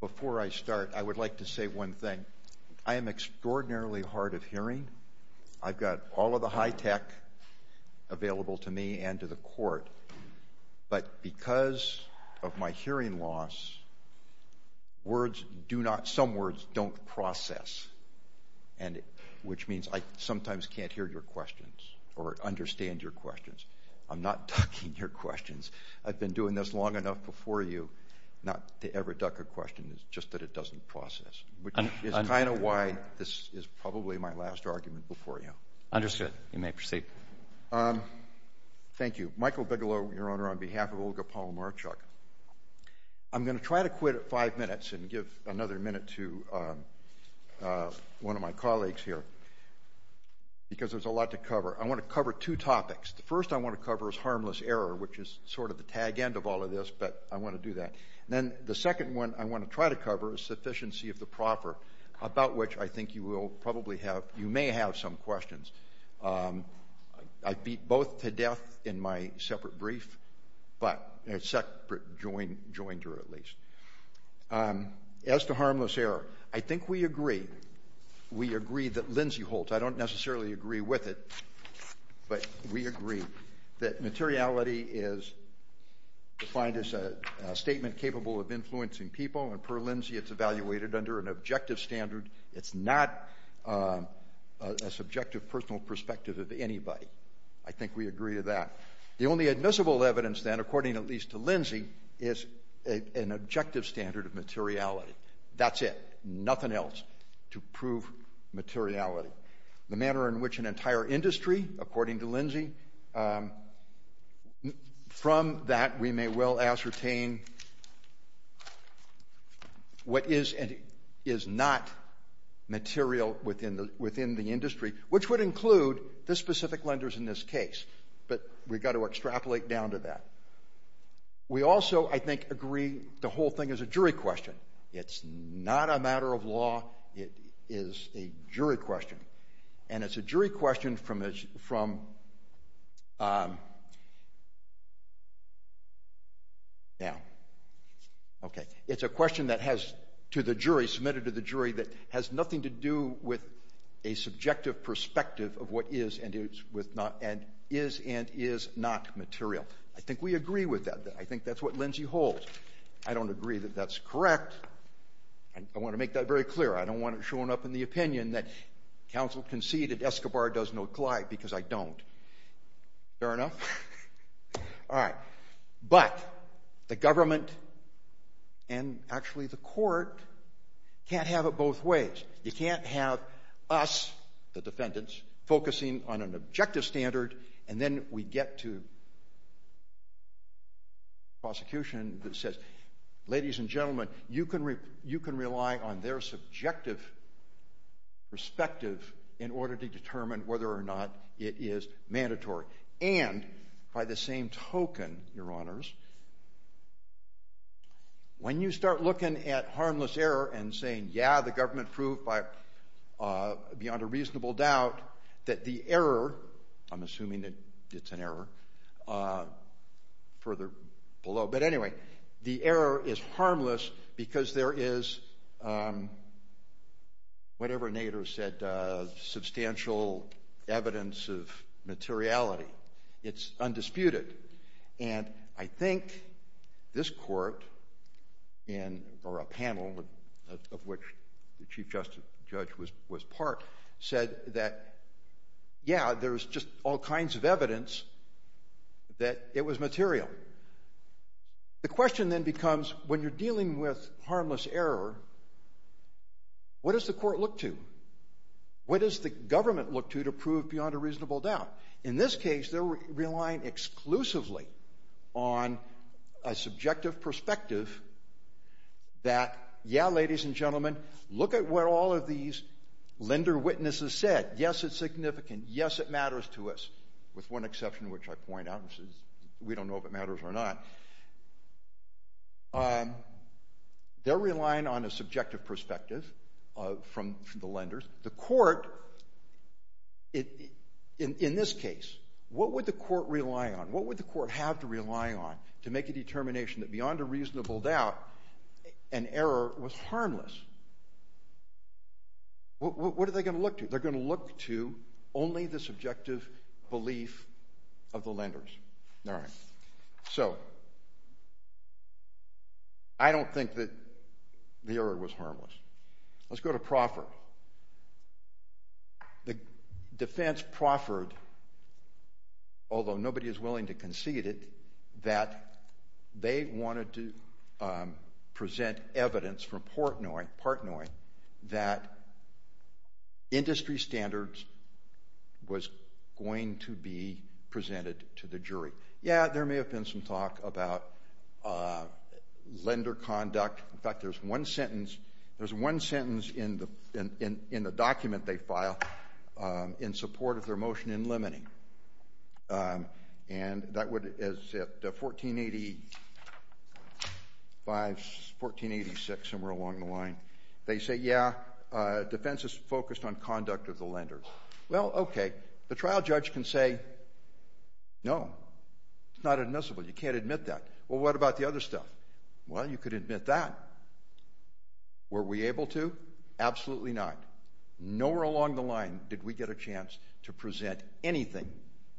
Before I start, I would like to say one thing. I am extraordinarily hard of hearing. I've got all of the high tech available to me and to the court, but because of my hearing loss, some words don't process, which means I sometimes can't hear your questions or understand your questions long enough before you, not to ever duck a question. It's just that it doesn't process, which is kind of why this is probably my last argument before you. Understood. You may proceed. Thank you. Michael Bigelow, your Honor, on behalf of Olga Palamarchuk. I'm going to try to quit at five minutes and give another minute to one of my colleagues here because there's a lot to cover. I want to cover two topics. The first I want to cover is harmless error, which is sort of the tag end of all of this, but I want to do that. Then the second one I want to try to cover is sufficiency of the proper, about which I think you will probably have, you may have some questions. I beat both to death in my separate brief, but a separate joinder at least. As to harmless error, I think we agree. We agree that Lindsey Holtz, I don't necessarily agree with it, but we agree that materiality is defined as a statement capable of influencing people, and per Lindsey it's evaluated under an objective standard. It's not a subjective personal perspective of anybody. I think we agree to that. The only admissible evidence then, according at least to Lindsey, is an objective standard of materiality. That's it. Nothing else to prove materiality. The manner in which an entire industry, according to Lindsey, from that we may well ascertain what is and is not material within the industry, which would include the specific lenders in this case, but we've got to extrapolate down to that. We also, I think, agree the whole thing is a jury question. It's not a matter of law. It is a jury question, and it's a jury question from, now, okay. It's a question that has to the jury, submitted to the jury, that has nothing to do with a subjective perspective of what is and is not material. I agree with that. I think that's what Lindsey holds. I don't agree that that's correct. I want to make that very clear. I don't want it showing up in the opinion that counsel conceded Escobar does not glide, because I don't. Fair enough? All right. But the government, and actually the court, can't have it both ways. You can't have us, the defendants, focusing on an objective standard, and then we get to prosecution that says, ladies and gentlemen, you can rely on their subjective perspective in order to determine whether or not it is mandatory. And by the same token, your honors, when you start looking at harmless error and saying, yeah, the government beyond a reasonable doubt, that the error, I'm assuming that it's an error, further below. But anyway, the error is harmless because there is, whatever Nader said, substantial evidence of justice, the judge was part, said that, yeah, there's just all kinds of evidence that it was material. The question then becomes, when you're dealing with harmless error, what does the court look to? What does the government look to to prove beyond a reasonable doubt? In this case, they're relying exclusively on a subjective perspective that, yeah, ladies and gentlemen, look at what all of these lender witnesses said. Yes, it's significant. Yes, it matters to us, with one exception, which I point out, which is we don't know if it matters or not. They're relying on a subjective perspective from the lenders. The court, in this case, what would the court rely on? What would the court have to rely on to make a determination that beyond a harmless? What are they going to look to? They're going to look to only the subjective belief of the lenders. All right. So I don't think that the error was harmless. Let's go to Proffert. The defense, Proffert, although nobody is willing to concede it, that they wanted to present evidence part knowing that industry standards was going to be presented to the jury. Yeah, there may have been some talk about lender conduct. In fact, there's one sentence in the document they file in support of their motion in limiting. And that was at 1486, somewhere along the line. They say, yeah, defense is focused on conduct of the lenders. Well, okay. The trial judge can say, no, it's not admissible. You can't admit that. Well, what about the other stuff? Well, you could Absolutely not. Nowhere along the line did we get a chance to present anything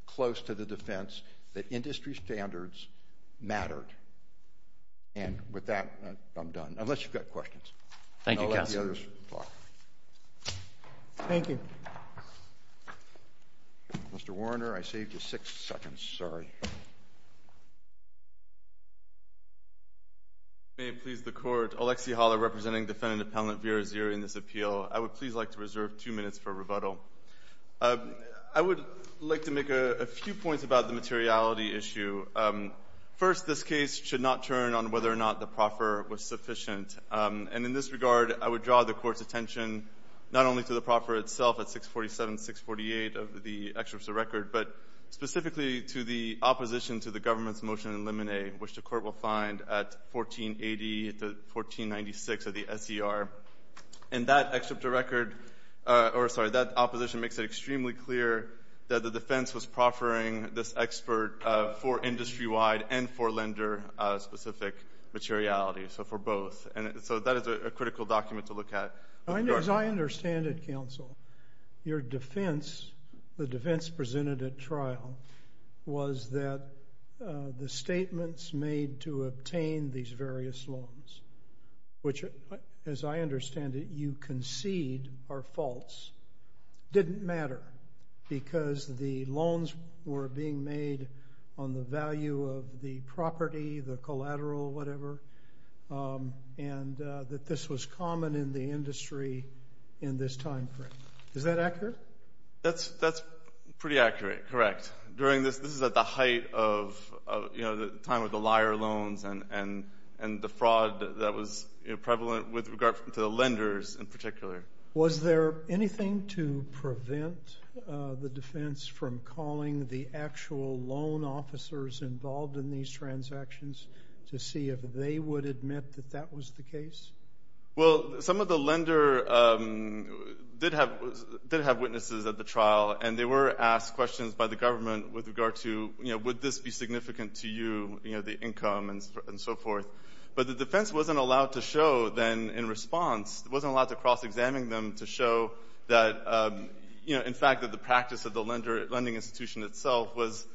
close to the defense that industry standards mattered. And with that, I'm done. Unless you've got questions. Thank you, counsel. Thank you. Mr. Warner, I saved you six seconds. Sorry. May it please the court, Alexi Haller representing Defendant Appellant Vera Zira in this appeal. I would please like to reserve two minutes for rebuttal. I would like to make a few points about the materiality issue. First, this case should not turn on whether or not the proffer was sufficient. And in this regard, I would draw the court's attention not only to the proffer itself at 647-648 of the excerpts of record, but specifically to the opposition to the government's motion in limine, which the court will find at 1480-1496 of the SCR. And that excerpt of record, or sorry, that opposition makes it extremely clear that the defense was proffering this expert for industry-wide and for lender specific materiality. So for both. And so that is a critical document to look at. As I understand it, counsel, your defense, the defense presented at trial was that the statements made to obtain these various loans, which as I understand it, you concede are false, didn't matter because the loans were being made on the value of the property, the collateral, whatever, and that this was common in the industry in this time frame. Is that accurate? That's pretty accurate. Correct. During this, this is at the height of the time of the liar loans and the fraud that was prevalent with regard to the lenders in particular. Was there anything to prevent the defense from calling the actual loan officers involved in these transactions to see if they would admit that that was the case? Well, some of the lender did have witnesses at the trial and they were asked questions by the government with regard to, you know, would this be significant to you, you know, the income and so forth. But the defense wasn't allowed to show then in response, wasn't allowed to cross-examine them to show that, you know, in fact that the practice of the lending institution itself was,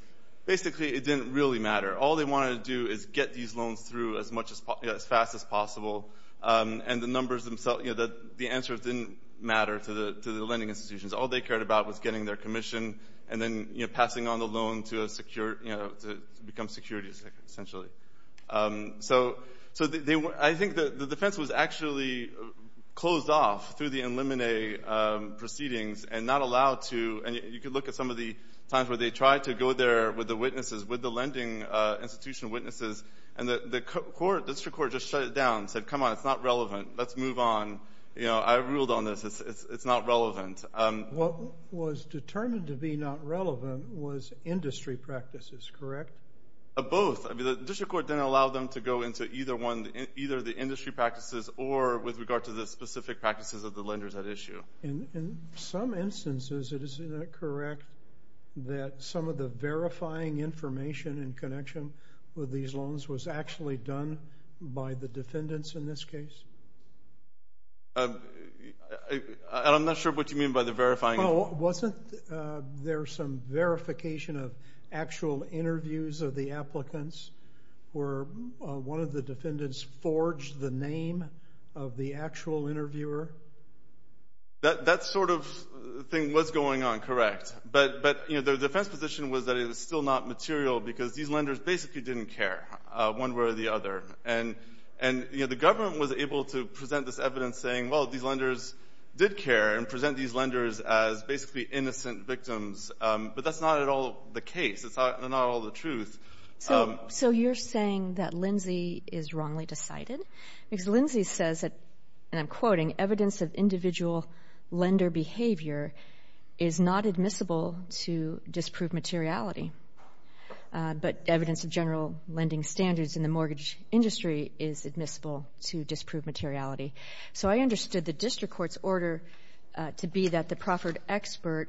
basically, it didn't really matter. All they wanted to do is get these loans through as fast as possible. And the numbers themselves, you know, the answers didn't matter to the lending institutions. All they cared about was getting their commission and then, you know, passing on the loan to a secure, you know, to become securities, essentially. So, I think the defense was actually closed off through the eliminate proceedings and not allowed to, and you could look at some of the times where they tried to go there with the witnesses, with the lending institution witnesses, and the court, district court, just shut it down and said, come on, it's not relevant. Let's move on. You know, I ruled on this. It's not relevant. What was determined to be not relevant was industry practices, correct? Both. I mean, the district court didn't allow them to go into either one, either the industry practices or with regard to the specific practices of the lenders at issue. In some instances, isn't it correct that some of the verifying information in connection with these loans was actually done by the defendants in this case? I'm not sure what you mean by the verifying. Well, wasn't there some verification of actual interviews of the applicants where one of the defendants forged the name of the actual interviewer? That sort of thing was going on, correct. But, you know, the defense position was that it was still not material because these lenders basically didn't care one way or the other. And, you know, the government was able to present this evidence saying, well, these lenders did care and present these lenders as basically innocent victims, but that's not at all the case. It's not all the truth. So you're saying that Lindsay is wrongly decided? Because Lindsay says that, and I'm quoting, evidence of individual lender behavior is not admissible to disprove materiality, but evidence of general lending standards in the mortgage industry is admissible to disprove materiality. So I understood the district court's order to be that the proffered expert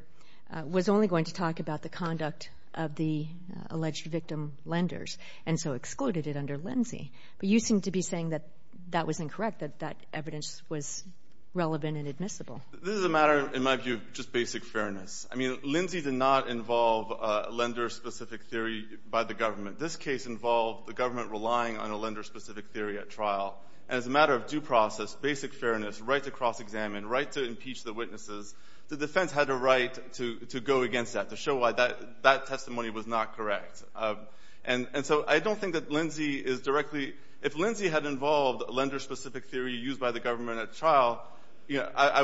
was only going to talk about the conduct of the alleged victim lenders and so excluded it under Lindsay. But you seem to be saying that that was incorrect, that that evidence was relevant and admissible. This is a matter, in my view, just basic fairness. I mean, Lindsay did not involve a lender-specific theory by the government. This case involved the government relying on a lender-specific theory at trial. And as a matter of due process, basic fairness, right to cross-examine, right to impeach the witnesses, the defense had a right to go against that, to show why that testimony was not correct. And so I don't think that Lindsay is directly— if Lindsay had involved a lender-specific theory used by the government at trial, I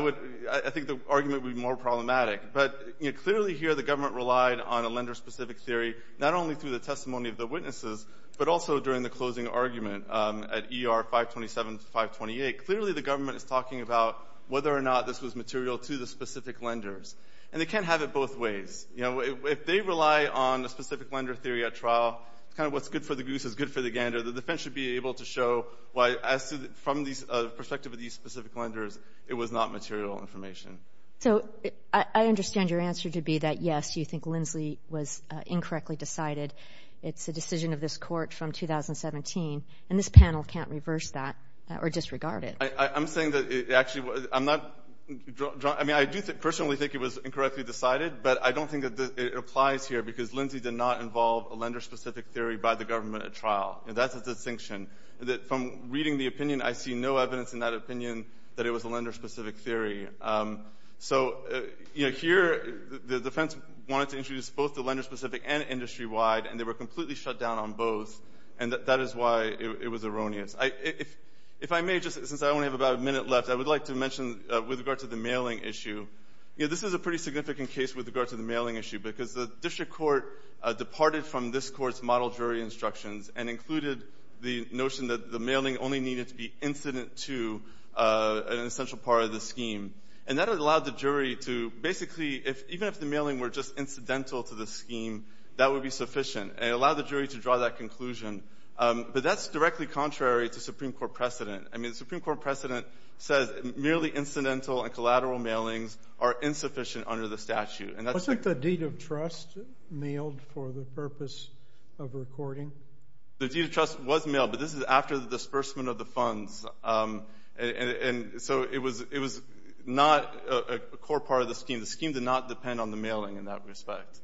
think the argument would be more problematic. But clearly here, the government relied on a lender-specific theory, not only through the testimony of the witnesses, but also during the closing argument at E.R. 527 to 528. Clearly, the government is talking about whether or not this was material to the specific lenders. And they can't have it both ways. You know, if they rely on a specific lender theory at trial, kind of what's good for the goose is good for the gander. The defense should be able to show why, as to the—from the perspective of these specific lenders, it was not material information. So I understand your answer to be that, yes, you think Lindsay was incorrectly decided. It's a decision of this Court from 2017. And this panel can't reverse that or disregard it. I'm saying that it actually—I'm not—I mean, I do personally think it was incorrectly decided, but I don't think that it applies here, because Lindsay did not involve a lender-specific theory by the government at trial. That's a distinction. From reading the opinion, I see no evidence in that opinion that it was a lender-specific theory. So, you know, here, the defense wanted to introduce both the lender-specific and industry-wide, and they were completely shut down on both. And that is why it was erroneous. If I may, just since I only have about a minute left, I would like to mention, with regard to the mailing issue, you know, this is a pretty significant case with regard to the mailing issue, because the District Court departed from this Court's model jury instructions and included the notion that the mailing only needed to be incident to an essential part of the scheme. And that allowed the jury to—basically, even if the mailing were just incidental to the scheme, that would be sufficient. And it allowed the jury to draw that conclusion. But that's directly contrary to Supreme Court precedent. I mean, the Supreme Court precedent says merely incidental and collateral mailings are insufficient under the statute. And that's— Wasn't the deed of trust mailed for the purpose of recording? The deed of trust was mailed, but this is after the disbursement of the funds. And so it was not a core part of the scheme. The scheme did not depend on the mailing in that respect.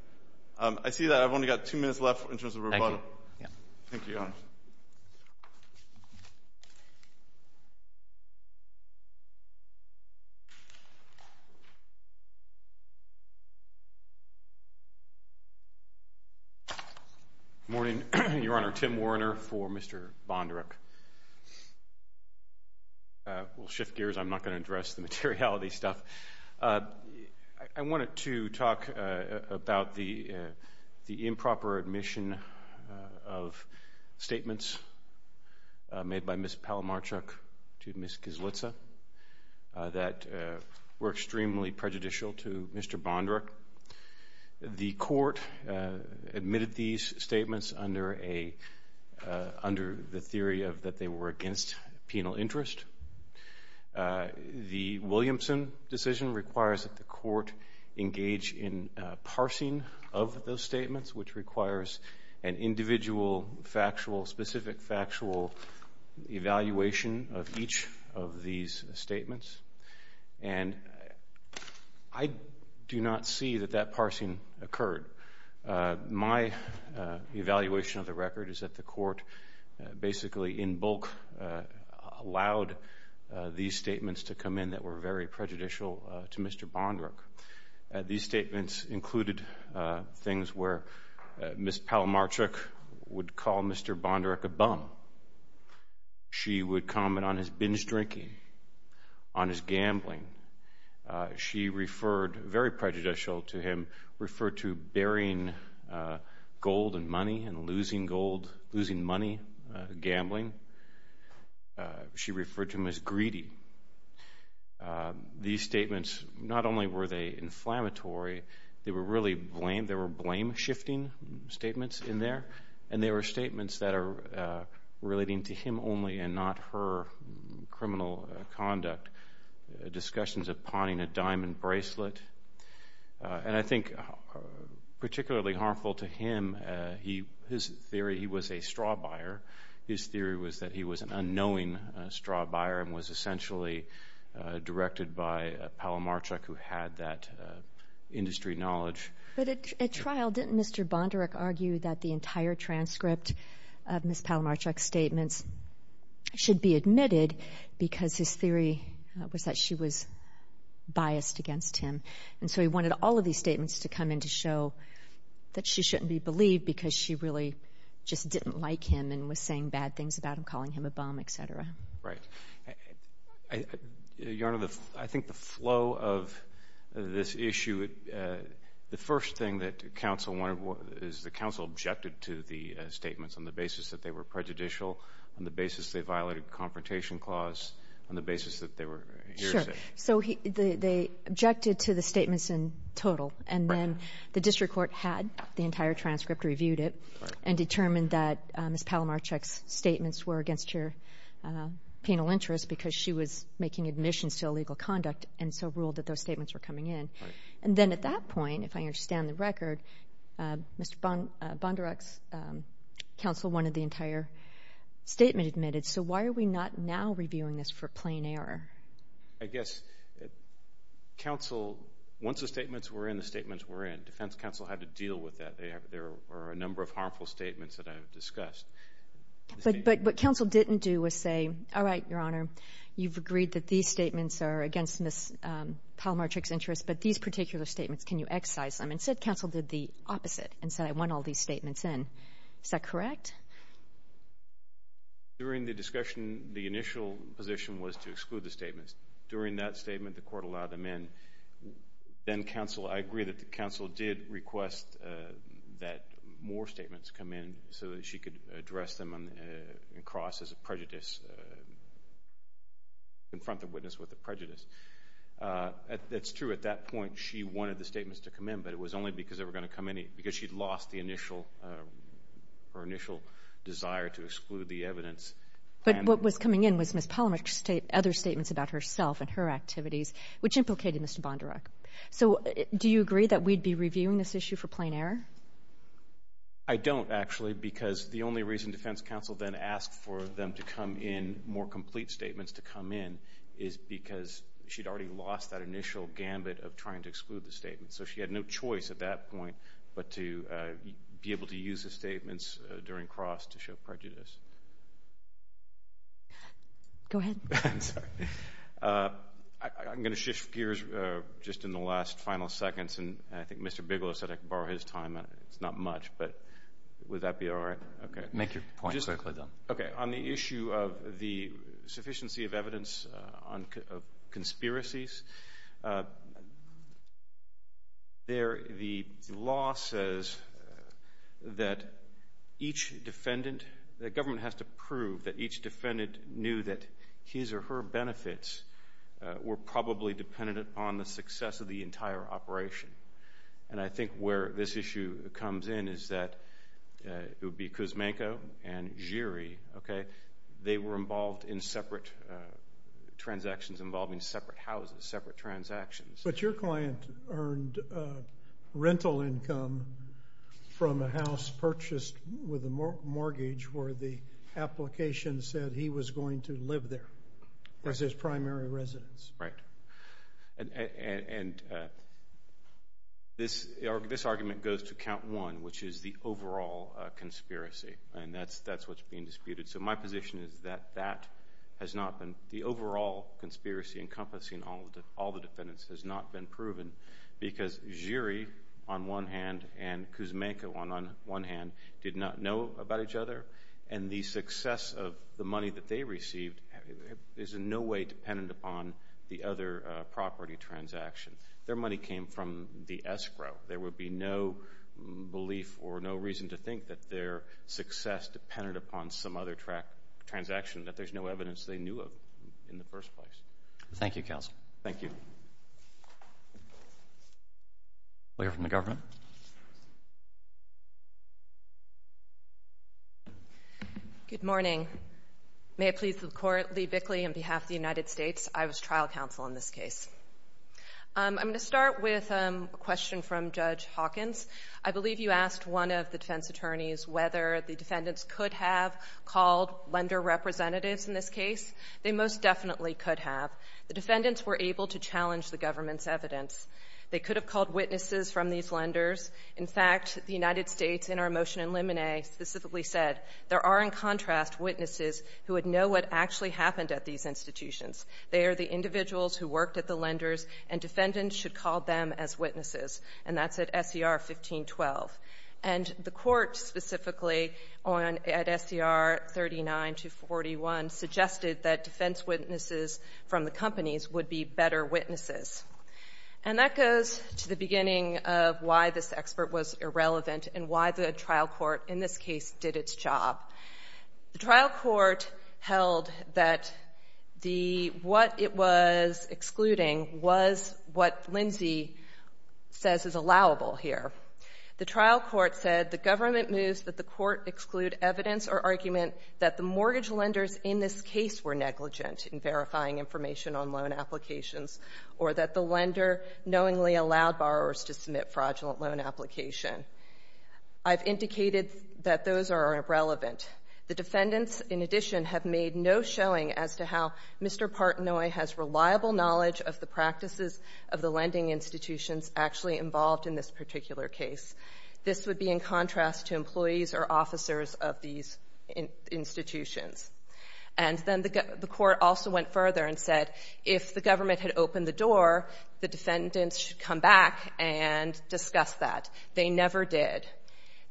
I see that I've only got two minutes left in terms of rebuttal. Thank you. Good morning, Your Honor. Tim Warner for Mr. Bondaruk. We'll shift gears. I'm not going to address the materiality stuff. I wanted to talk about the improper admission of statements made by Ms. Palomarchuk to Ms. Kizlitza that were extremely prejudicial to Mr. Bondaruk. The court admitted these statements under the theory that they were against penal interest. The Williamson decision requires that the court engage in parsing of those statements, which requires an individual, factual, specific factual evaluation of each of these statements. And I do not see that that parsing occurred. My evaluation of the record is that the court basically, in bulk, allowed these statements to come in that were very prejudicial to Mr. Bondaruk. These statements included things where Ms. Palomarchuk would call Mr. Bondaruk a bum. She would comment on his binge drinking, on his gambling. She referred, very prejudicial to him, referred to burying gold and money and losing money gambling. She referred to him as greedy. These statements, not only were they inflammatory, they were really blame, they were blame shifting statements in there. And they were statements that are relating to him only and not her criminal conduct. Discussions of pawning a diamond bracelet. And I think particularly harmful to him, his theory, he was a straw buyer. His theory was that he was an unknowing straw buyer and was essentially directed by Palomarchuk who had that industry knowledge. But at trial, didn't Mr. Bondaruk argue that the entire transcript of Ms. Palomarchuk's statements should be admitted because his theory was that she was him. And so he wanted all of these statements to come in to show that she shouldn't be believed because she really just didn't like him and was saying bad things about him, calling him a bum, et cetera. Right. Your Honor, I think the flow of this issue, the first thing that counsel wanted, is the counsel objected to the statements on the basis that they were prejudicial, on the basis they violated the confrontation clause, on the basis that they were hearsay. So they objected to the statements in total. And then the district court had the entire transcript, reviewed it, and determined that Ms. Palomarchuk's statements were against her penal interest because she was making admissions to illegal conduct and so ruled that those statements were coming in. And then at that point, if I understand the record, Mr. Bondaruk's counsel wanted the entire statement admitted. So why are we not now for plain error? I guess counsel, once the statements were in, the statements were in, defense counsel had to deal with that. There were a number of harmful statements that I've discussed. But what counsel didn't do was say, all right, Your Honor, you've agreed that these statements are against Ms. Palomarchuk's interest, but these particular statements, can you excise them? And said counsel did the opposite and said, I want all these statements in. Is that correct? During the discussion, the initial position was to exclude the statements. During that statement, the court allowed them in. Then counsel, I agree that the counsel did request that more statements come in so that she could address them in cross as a prejudice, confront the witness with the prejudice. That's true. At that point, she wanted the statements to come in, but it was only because they were going to come in because she'd lost her initial desire to exclude the evidence. But what was coming in was Ms. Palomarchuk's other statements about herself and her activities, which implicated Mr. Bondurak. So do you agree that we'd be reviewing this issue for plain error? I don't, actually, because the only reason defense counsel then asked for them to come in more complete statements to come in is because she'd already lost that initial gambit of trying to exclude the statements. So she had no choice at that point but to be able to use the statements during cross to show prejudice. Go ahead. I'm sorry. I'm going to shift gears just in the last final seconds, and I think Mr. Bigelow said I could borrow his time. It's not much, but would that be all right? Okay. Make your point quickly, then. Okay. On the issue of the defendant, the law says that each defendant, the government has to prove that each defendant knew that his or her benefits were probably dependent upon the success of the entire operation. And I think where this issue comes in is that it would be Kuzmenko and Giri, okay? They were involved in separate transactions involving separate houses, separate transactions. But your client earned rental income from a house purchased with a mortgage where the application said he was going to live there as his primary residence. Right. And this argument goes to count one, which is the overall conspiracy, and that's what's being disputed. So my position is that that has not been the overall conspiracy encompassing all the defendants has not been proven because Giri on one hand and Kuzmenko on one hand did not know about each other, and the success of the money that they received is in no way dependent upon the other property transaction. Their money came from the escrow. There would be no belief or no reason to think that their success depended upon some other transaction that there's no evidence they knew of in the first place. Thank you, counsel. Thank you. We'll hear from the government. Good morning. May it please the court, Lee Bickley on behalf of the United States. I was trial counsel in this case. I'm going to start with a question from Judge Hawkins. I believe you asked one of the defense attorneys whether the defendants could have called lender representatives in this case. They most definitely could have. The defendants were able to challenge the government's evidence. They could have called witnesses from these lenders. In fact, the United States in our motion in limine specifically said there are in contrast witnesses who would know what actually happened at these institutions. They are the individuals who worked at the court. The court specifically at SCR 39 to 41 suggested that defense witnesses from the companies would be better witnesses. That goes to the beginning of why this expert was irrelevant and why the trial court in this case did its job. The trial court held that what it was excluding was what Lindsay says is allowable here. The trial court said the government moves that the court exclude evidence or argument that the mortgage lenders in this case were negligent in verifying information on loan applications or that the lender knowingly allowed borrowers to submit fraudulent loan application. I've indicated that those are irrelevant. The defendants in addition have made no showing as to how Mr. Partnoy has reliable knowledge of the practices of the lending institutions actually involved in this particular case. This would be in contrast to employees or officers of these institutions. And then the court also went further and said if the government had opened the door, the defendants should come back and discuss that. They never did.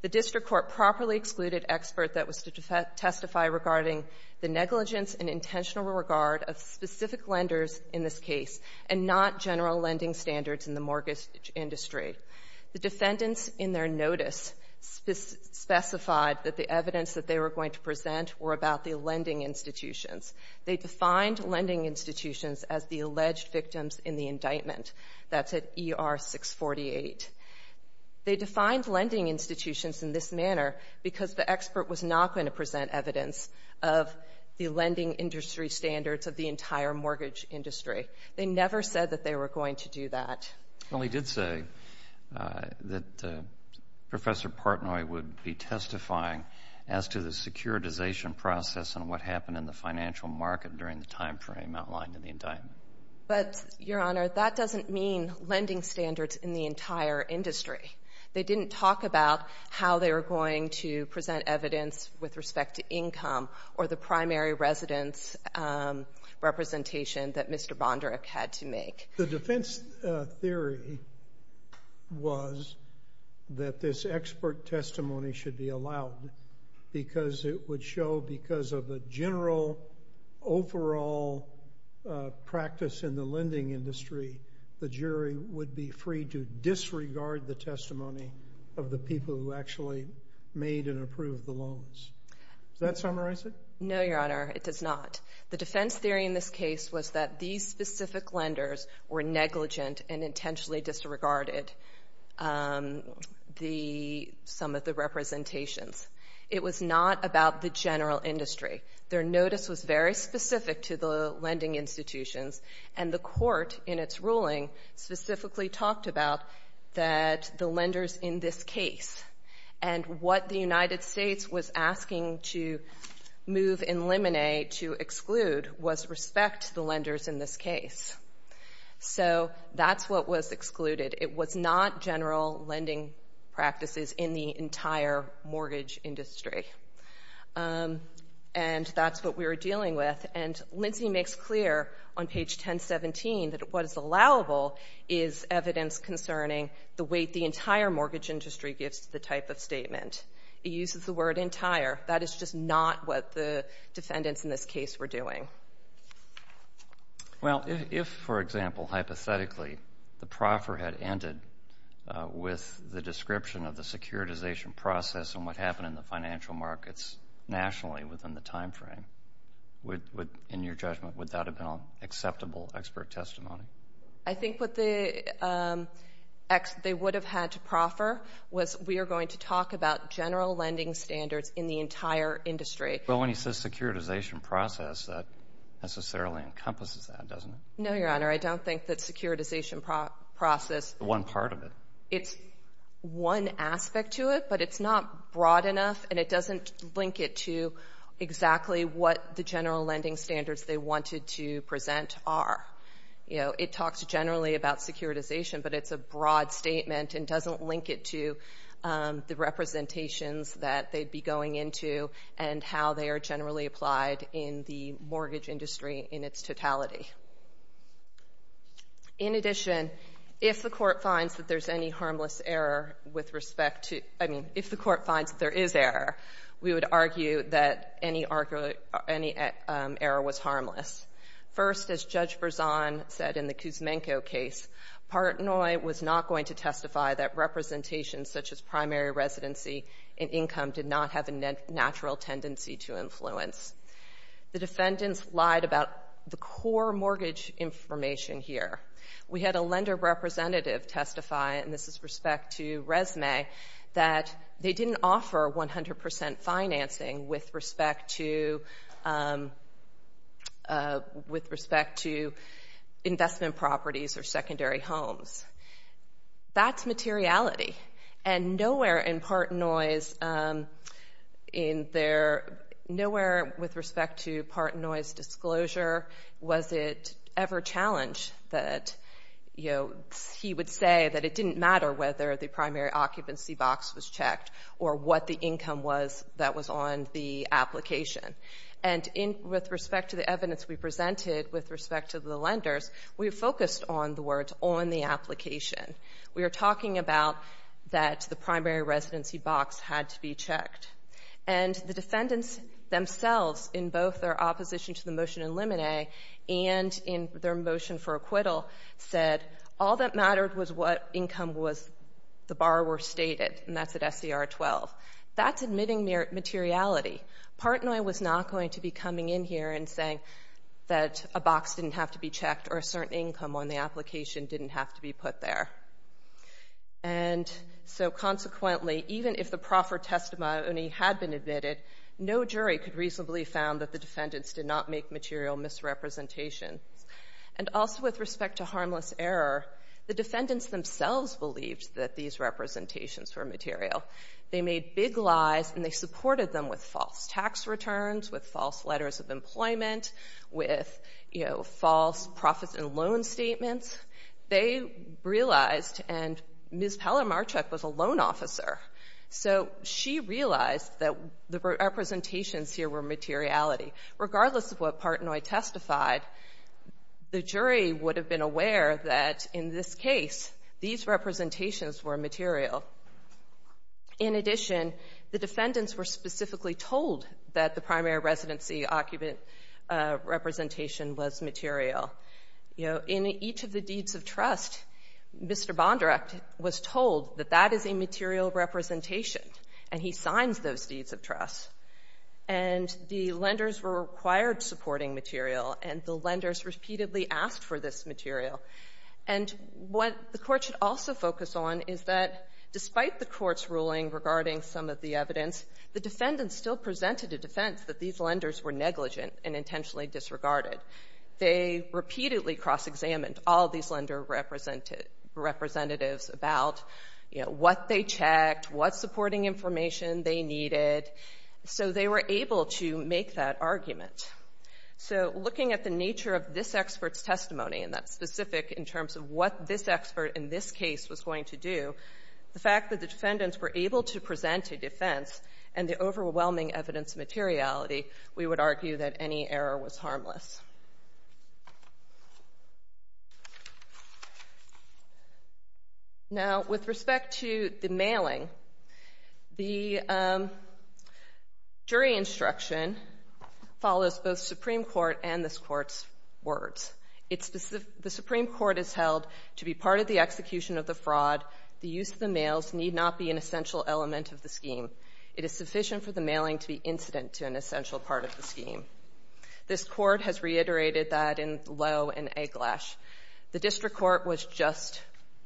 The district court properly excluded expert that was to testify regarding the negligence and intentional regard of specific lenders in this case and not general lending standards in the mortgage industry. The defendants in their notice specified that the evidence that they were going to present were about the lending institutions. They defined lending institutions as the alleged victims in the indictment. That's at ER 648. They defined lending institutions in this manner because the expert was not going to present evidence of the lending industry standards of the entire mortgage industry. They never said that they were going to do that. Well, he did say that Professor Partnoy would be testifying as to the securitization process and what financial market during the time frame outlined in the indictment. But, Your Honor, that doesn't mean lending standards in the entire industry. They didn't talk about how they were going to present evidence with respect to income or the primary residence representation that Mr. Bondarek had to make. The defense theory was that this expert testimony should be allowed because it overall practice in the lending industry, the jury would be free to disregard the testimony of the people who actually made and approved the loans. Does that summarize it? No, Your Honor, it does not. The defense theory in this case was that these specific lenders were negligent and intentionally disregarded some of the representations. It was not about the general industry. Their notice was very specific to the lending institutions and the court in its ruling specifically talked about that the lenders in this case and what the United States was asking to move and eliminate to exclude was respect to the lenders in this case. So, that's what was excluded. It was not general lending practices in the entire mortgage industry. And that's what we were dealing with. And Lindsay makes clear on page 1017 that what is allowable is evidence concerning the weight the entire mortgage industry gives to the type of statement. It uses the word entire. That is just not what the defendants in this case were doing. Well, if, for example, hypothetically, the proffer had ended with the description of the time frame, in your judgment, would that have been an acceptable expert testimony? I think what they would have had to proffer was we are going to talk about general lending standards in the entire industry. Well, when he says securitization process, that necessarily encompasses that, doesn't it? No, Your Honor, I don't think that securitization process is one aspect to it, but it's not broad enough and it doesn't link it to exactly what the general lending standards they wanted to present are. You know, it talks generally about securitization, but it's a broad statement and doesn't link it to the representations that they'd be going into and how they are generally applied in the mortgage industry in its totality. In addition, if the court finds that there's any harmless error with any argument, any error was harmless. First, as Judge Berzon said in the Kuzmenko case, Partnoy was not going to testify that representations such as primary residency and income did not have a natural tendency to influence. The defendants lied about the core mortgage information here. We had a lender representative testify, and this is respect to with respect to investment properties or secondary homes. That's materiality, and nowhere in Partnoy's in their nowhere with respect to Partnoy's disclosure was it ever challenged that, you know, he would say that it didn't matter whether the primary occupancy box was checked or what the income was that was on the application. And with respect to the evidence we presented with respect to the lenders, we focused on the words on the application. We were talking about that the primary residency box had to be checked. And the defendants themselves in both their opposition to the motion in Limine and in their motion for acquittal said all that at SCR 12. That's admitting materiality. Partnoy was not going to be coming in here and saying that a box didn't have to be checked or a certain income on the application didn't have to be put there. And so consequently, even if the proffer testimony had been admitted, no jury could reasonably found that the defendants did not make material misrepresentations. And also with respect to harmless error, the defendants themselves believed that these representations were material. They made big lies and they supported them with false tax returns, with false letters of employment, with, you know, false profits and loan statements. They realized, and Ms. Pellermarchuk was a loan officer, so she realized that the representations here were materiality. Regardless of what Partnoy testified, the jury would have been aware that in this case, these representations were material. In addition, the defendants were specifically told that the primary residency occupant representation was material. You know, in each of the deeds of trust, Mr. Bondirect was told that that is a material representation and he signs those deeds of trust. And the lenders were required supporting material and the lenders repeatedly asked for this material. And what the court should also focus on is that despite the court's ruling regarding some of the evidence, the defendants still presented a defense that these lenders were negligent and intentionally disregarded. They repeatedly cross-examined all these lender representatives about, you know, what they checked, what supporting information they needed, so they were able to make that argument. So looking at the nature of this expert's testimony, and that's specific in terms of what this expert in this case was going to do, the fact that the defendants were able to present a defense and the overwhelming evidence materiality, we would argue that any error was harmless. Now, with respect to the mailing, the jury instruction follows both the Supreme Court and this court's words. The Supreme Court is held to be part of the execution of the fraud. The use of the mails need not be an essential element of the scheme. It is sufficient for the mailing to be incident to an essential part of the scheme. This court has reached a conclusion that the district court was just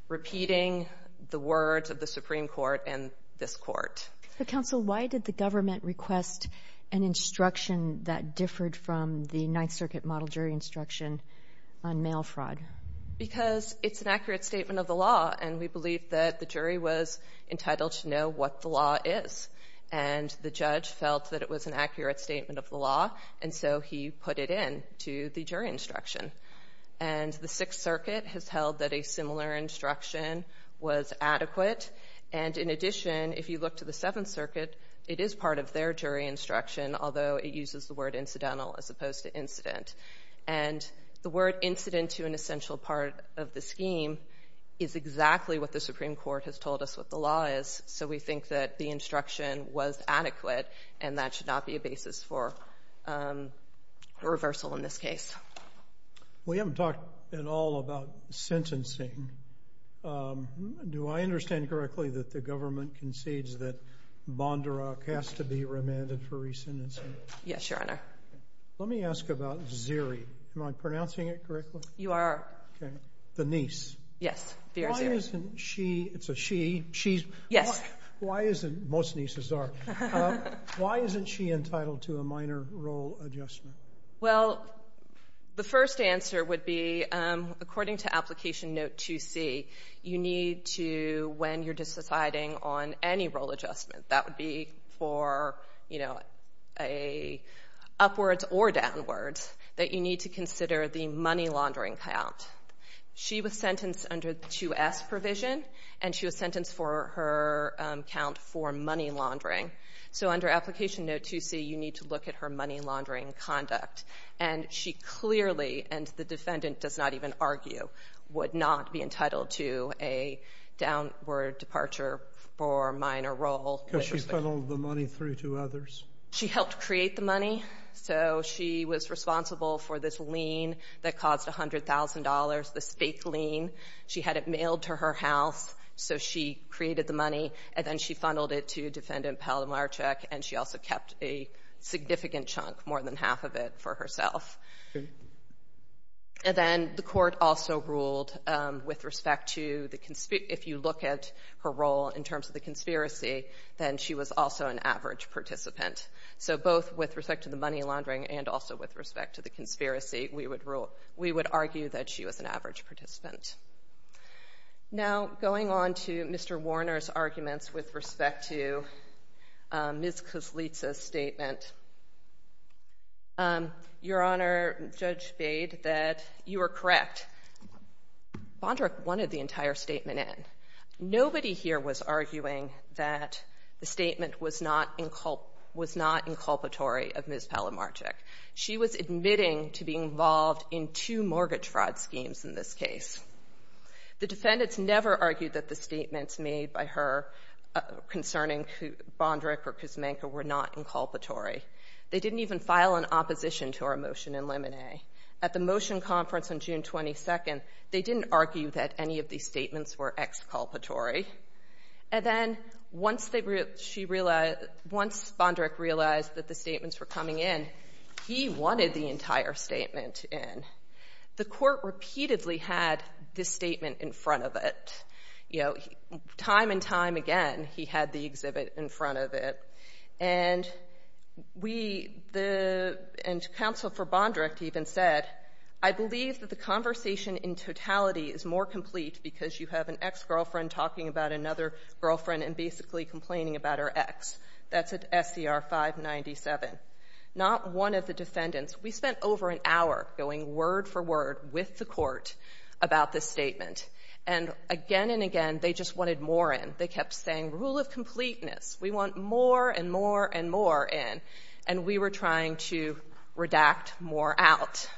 repeating the words of the Supreme Court and this court. Counsel, why did the government request an instruction that differed from the Ninth Circuit model jury instruction on mail fraud? Because it's an accurate statement of the law, and we believe that the jury was entitled to know what the law is, and the judge felt that it was an accurate statement of the law, and so he put it in to the jury instruction. And the Sixth Circuit has held that a similar instruction was adequate, and in addition, if you look to the Seventh Circuit, it is part of their jury instruction, although it uses the word incidental as opposed to incident. And the word incident to an essential part of the scheme is exactly what the Supreme Court has told us what the law is, so we think that the instruction was adequate, and that should not be a basis for reversal in this case. We haven't talked at all about sentencing. Do I understand correctly that the government concedes that Bondurak has to be remanded for re-sentencing? Yes, Your Honor. Let me ask about Ziri. Am I pronouncing it correctly? You are. Okay. The niece. Yes, she. She's. Yes. Why isn't, most nieces are, why isn't she entitled to a minor role adjustment? Well, the first answer would be, according to Application Note 2C, you need to, when you're deciding on any role adjustment, that would be for, you know, a upwards or downwards, that you consider the money laundering count. She was sentenced under the 2S provision, and she was sentenced for her count for money laundering. So under Application Note 2C, you need to look at her money laundering conduct. And she clearly, and the defendant does not even argue, would not be entitled to a downward departure for minor role. Because she funneled the money through to others? She helped create the money. So she was responsible for this lien that caused $100,000, this fake lien. She had it mailed to her house, so she created the money, and then she funneled it to Defendant Palomarczyk, and she also kept a significant chunk, more than half of it, for herself. And then the court also ruled with respect to the, if you look at her role in terms of the So both with respect to the money laundering and also with respect to the conspiracy, we would rule, we would argue that she was an average participant. Now, going on to Mr. Warner's arguments with respect to Ms. Kozlica's statement. Your Honor, Judge Bade, that you are correct. Bondrock wanted the entire statement in. Nobody here was arguing that the statement was not inculpatory of Ms. Palomarczyk. She was admitting to being involved in two mortgage fraud schemes in this case. The defendants never argued that the statements made by her concerning Bondrock or Kuzmenko were not inculpatory. They didn't even file an opposition to her motion in limine. At the motion conference on June 22nd, they didn't argue that any of these statements were exculpatory. And then once they, she realized, once Bondrock realized that the statements were coming in, he wanted the entire statement in. The court repeatedly had this statement in front of it. You know, time and time again, he had the exhibit in front of it. And we, the, Counsel for Bondrock even said, I believe that the conversation in totality is more complete because you have an ex-girlfriend talking about another girlfriend and basically complaining about her ex. That's at SCR 597. Not one of the defendants. We spent over an hour going word for word with the court about this statement. And again and again, they just wanted more in. They kept saying rule of completeness. We want more and more and more in. And we were trying to redact more out.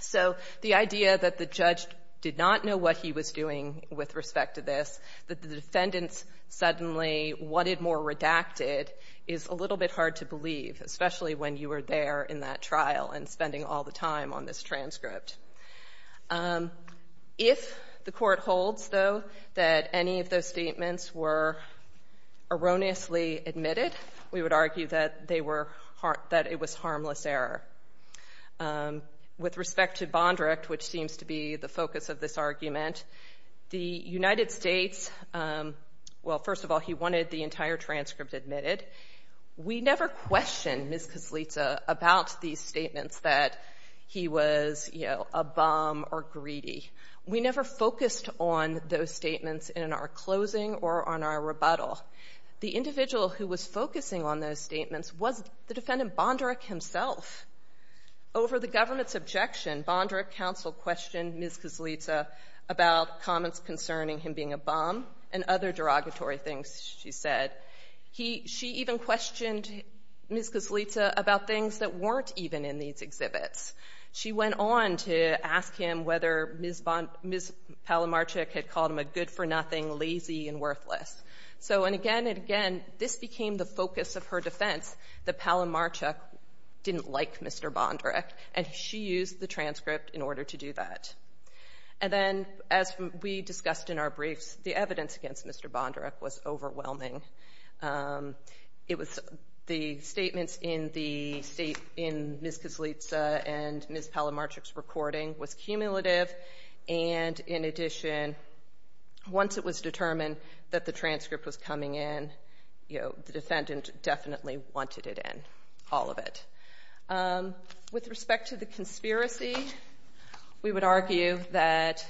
So the idea that the judge did not know what he was doing with respect to this, that the defendants suddenly wanted more redacted is a little bit hard to believe, especially when you were there in that trial and spending all the time on this transcript. If the court holds, though, that any of those statements were erroneously admitted, we would argue that they were, that it was harmless error. With respect to Bondrock, which seems to be the focus of this argument, the United States, well, first of all, he wanted the entire transcript admitted. We never questioned Ms. Kaslica about these statements that he was, you know, a bum or greedy. We never focused on those statements in our closing or on our rebuttal. The individual who was focusing on those statements was the defendant Bondrock himself. Over the government's objection, Bondrock counsel questioned Ms. Kaslica about comments concerning him being a bum and other derogatory things she said. She even questioned Ms. Kaslica about things that weren't even in these exhibits. She went on to ask him whether Ms. Palomarchuk had called him a good-for-nothing, lazy, and worthless. So, and again and again, this became the focus of her defense, that Palomarchuk didn't like Mr. Bondrock, and she used the transcript in order to do that. And then, as we discussed in our briefs, the evidence against Mr. Bondrock was overwhelming. It was, the statements in the state, in Ms. Kaslica and Ms. Palomarchuk's recording was cumulative, and in addition, once it was determined that the transcript was coming in, you know, the defendant definitely wanted it in, all of it. With respect to the conspiracy, we would argue that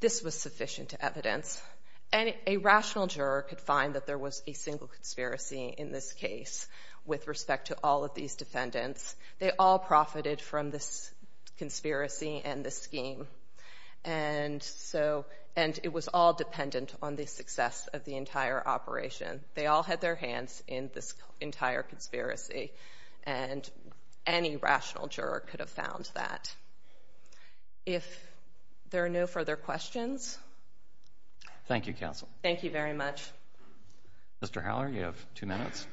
this was sufficient evidence, and a rational juror could find that there was a single conspiracy in this case with respect to all of these defendants. They all profited from this conspiracy and this scheme, and so, and it was all dependent on the success of the entire operation. They all had their hands in this entire conspiracy, and any rational juror could have found that. If there are no further questions? Thank you, counsel. Thank you very much. Mr. Howler, you have two minutes.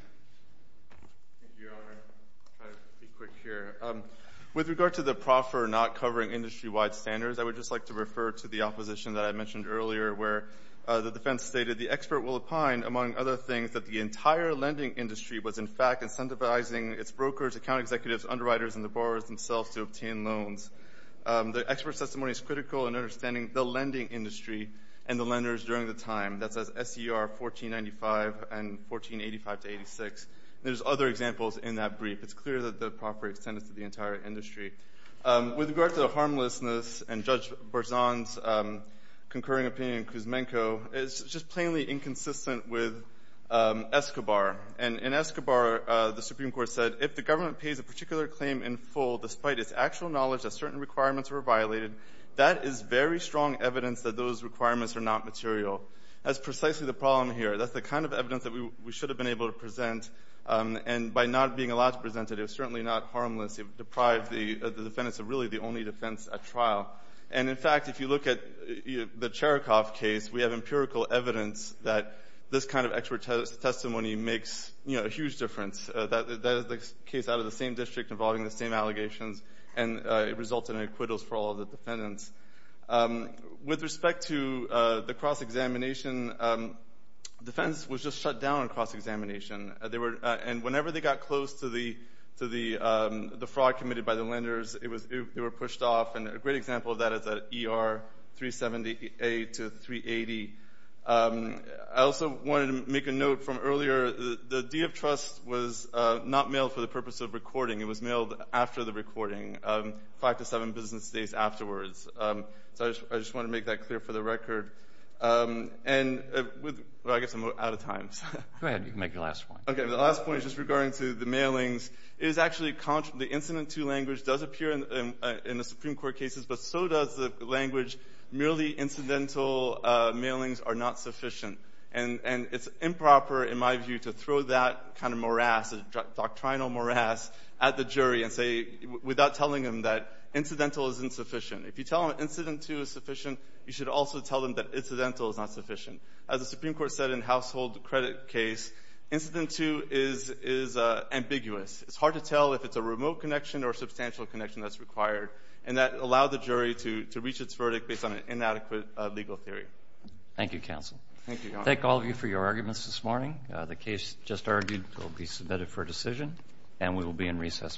Thank you, Your Honor. I'll try to be quick here. With regard to the proffer not covering industry-wide standards, I would just like to refer to the opposition that I mentioned earlier, where the defense stated, the expert will opine, among other things, that the entire lending industry was, in fact, incentivizing its brokers, account executives, underwriters, and the borrowers themselves to obtain loans. The expert's testimony is critical in understanding the lending industry and the lenders during the time. That says SER 1495 and 1485-86. There's other examples in that brief. It's clear that the proffer extends to the entire industry. With regard to the harmlessness and Judge Berzon's concurring opinion in Kuzmenko, it's just plainly inconsistent with Escobar, and in Escobar, the Supreme Court said, if the government pays a particular claim in full, despite its actual knowledge that certain requirements were violated, that is very strong evidence that those requirements are not material. That's precisely the problem here. That's the kind of evidence that we should have been able to present, and by not being allowed to present it, it was certainly not harmless. It deprived the defendants of really the only defense at trial. And, in fact, if you look at the Cherikov case, we have empirical evidence that this kind of expert testimony makes a huge difference. That is the case out of the same district involving the same allegations, and it resulted in acquittals for all the defendants. With respect to the cross-examination, the defense was just shut down on cross-examination, and whenever they got close to the fraud committed by the lenders, they were pushed off, and a great example of that is the ER 378 to 380. I also wanted to make a note from earlier, the deed of trust was not mailed for the purpose of recording. It was mailed after the recording, five to seven business days afterwards. I just wanted to make that clear for the record. I guess I'm out of time. Go ahead. You can make your last point. Okay. The last point is just regarding to the mailings. The incident to language does appear in the Supreme Court cases, but so does the language. Merely incidental mailings are not sufficient, and it's improper, in my view, to throw that kind of morass, doctrinal morass, at the jury and say, without telling them that incidental is insufficient. If you tell them incident two is sufficient, you should also tell them that incidental is not sufficient. As the Supreme Court said in the household credit case, incident two is ambiguous. It's hard to tell if it's a remote connection or a substantial connection that's required, and that allowed the jury to reach its verdict based on an inadequate legal theory. Thank you, counsel. Thank all of you for your arguments this morning. The case just argued will be submitted for decision, and we will be in recess for the morning.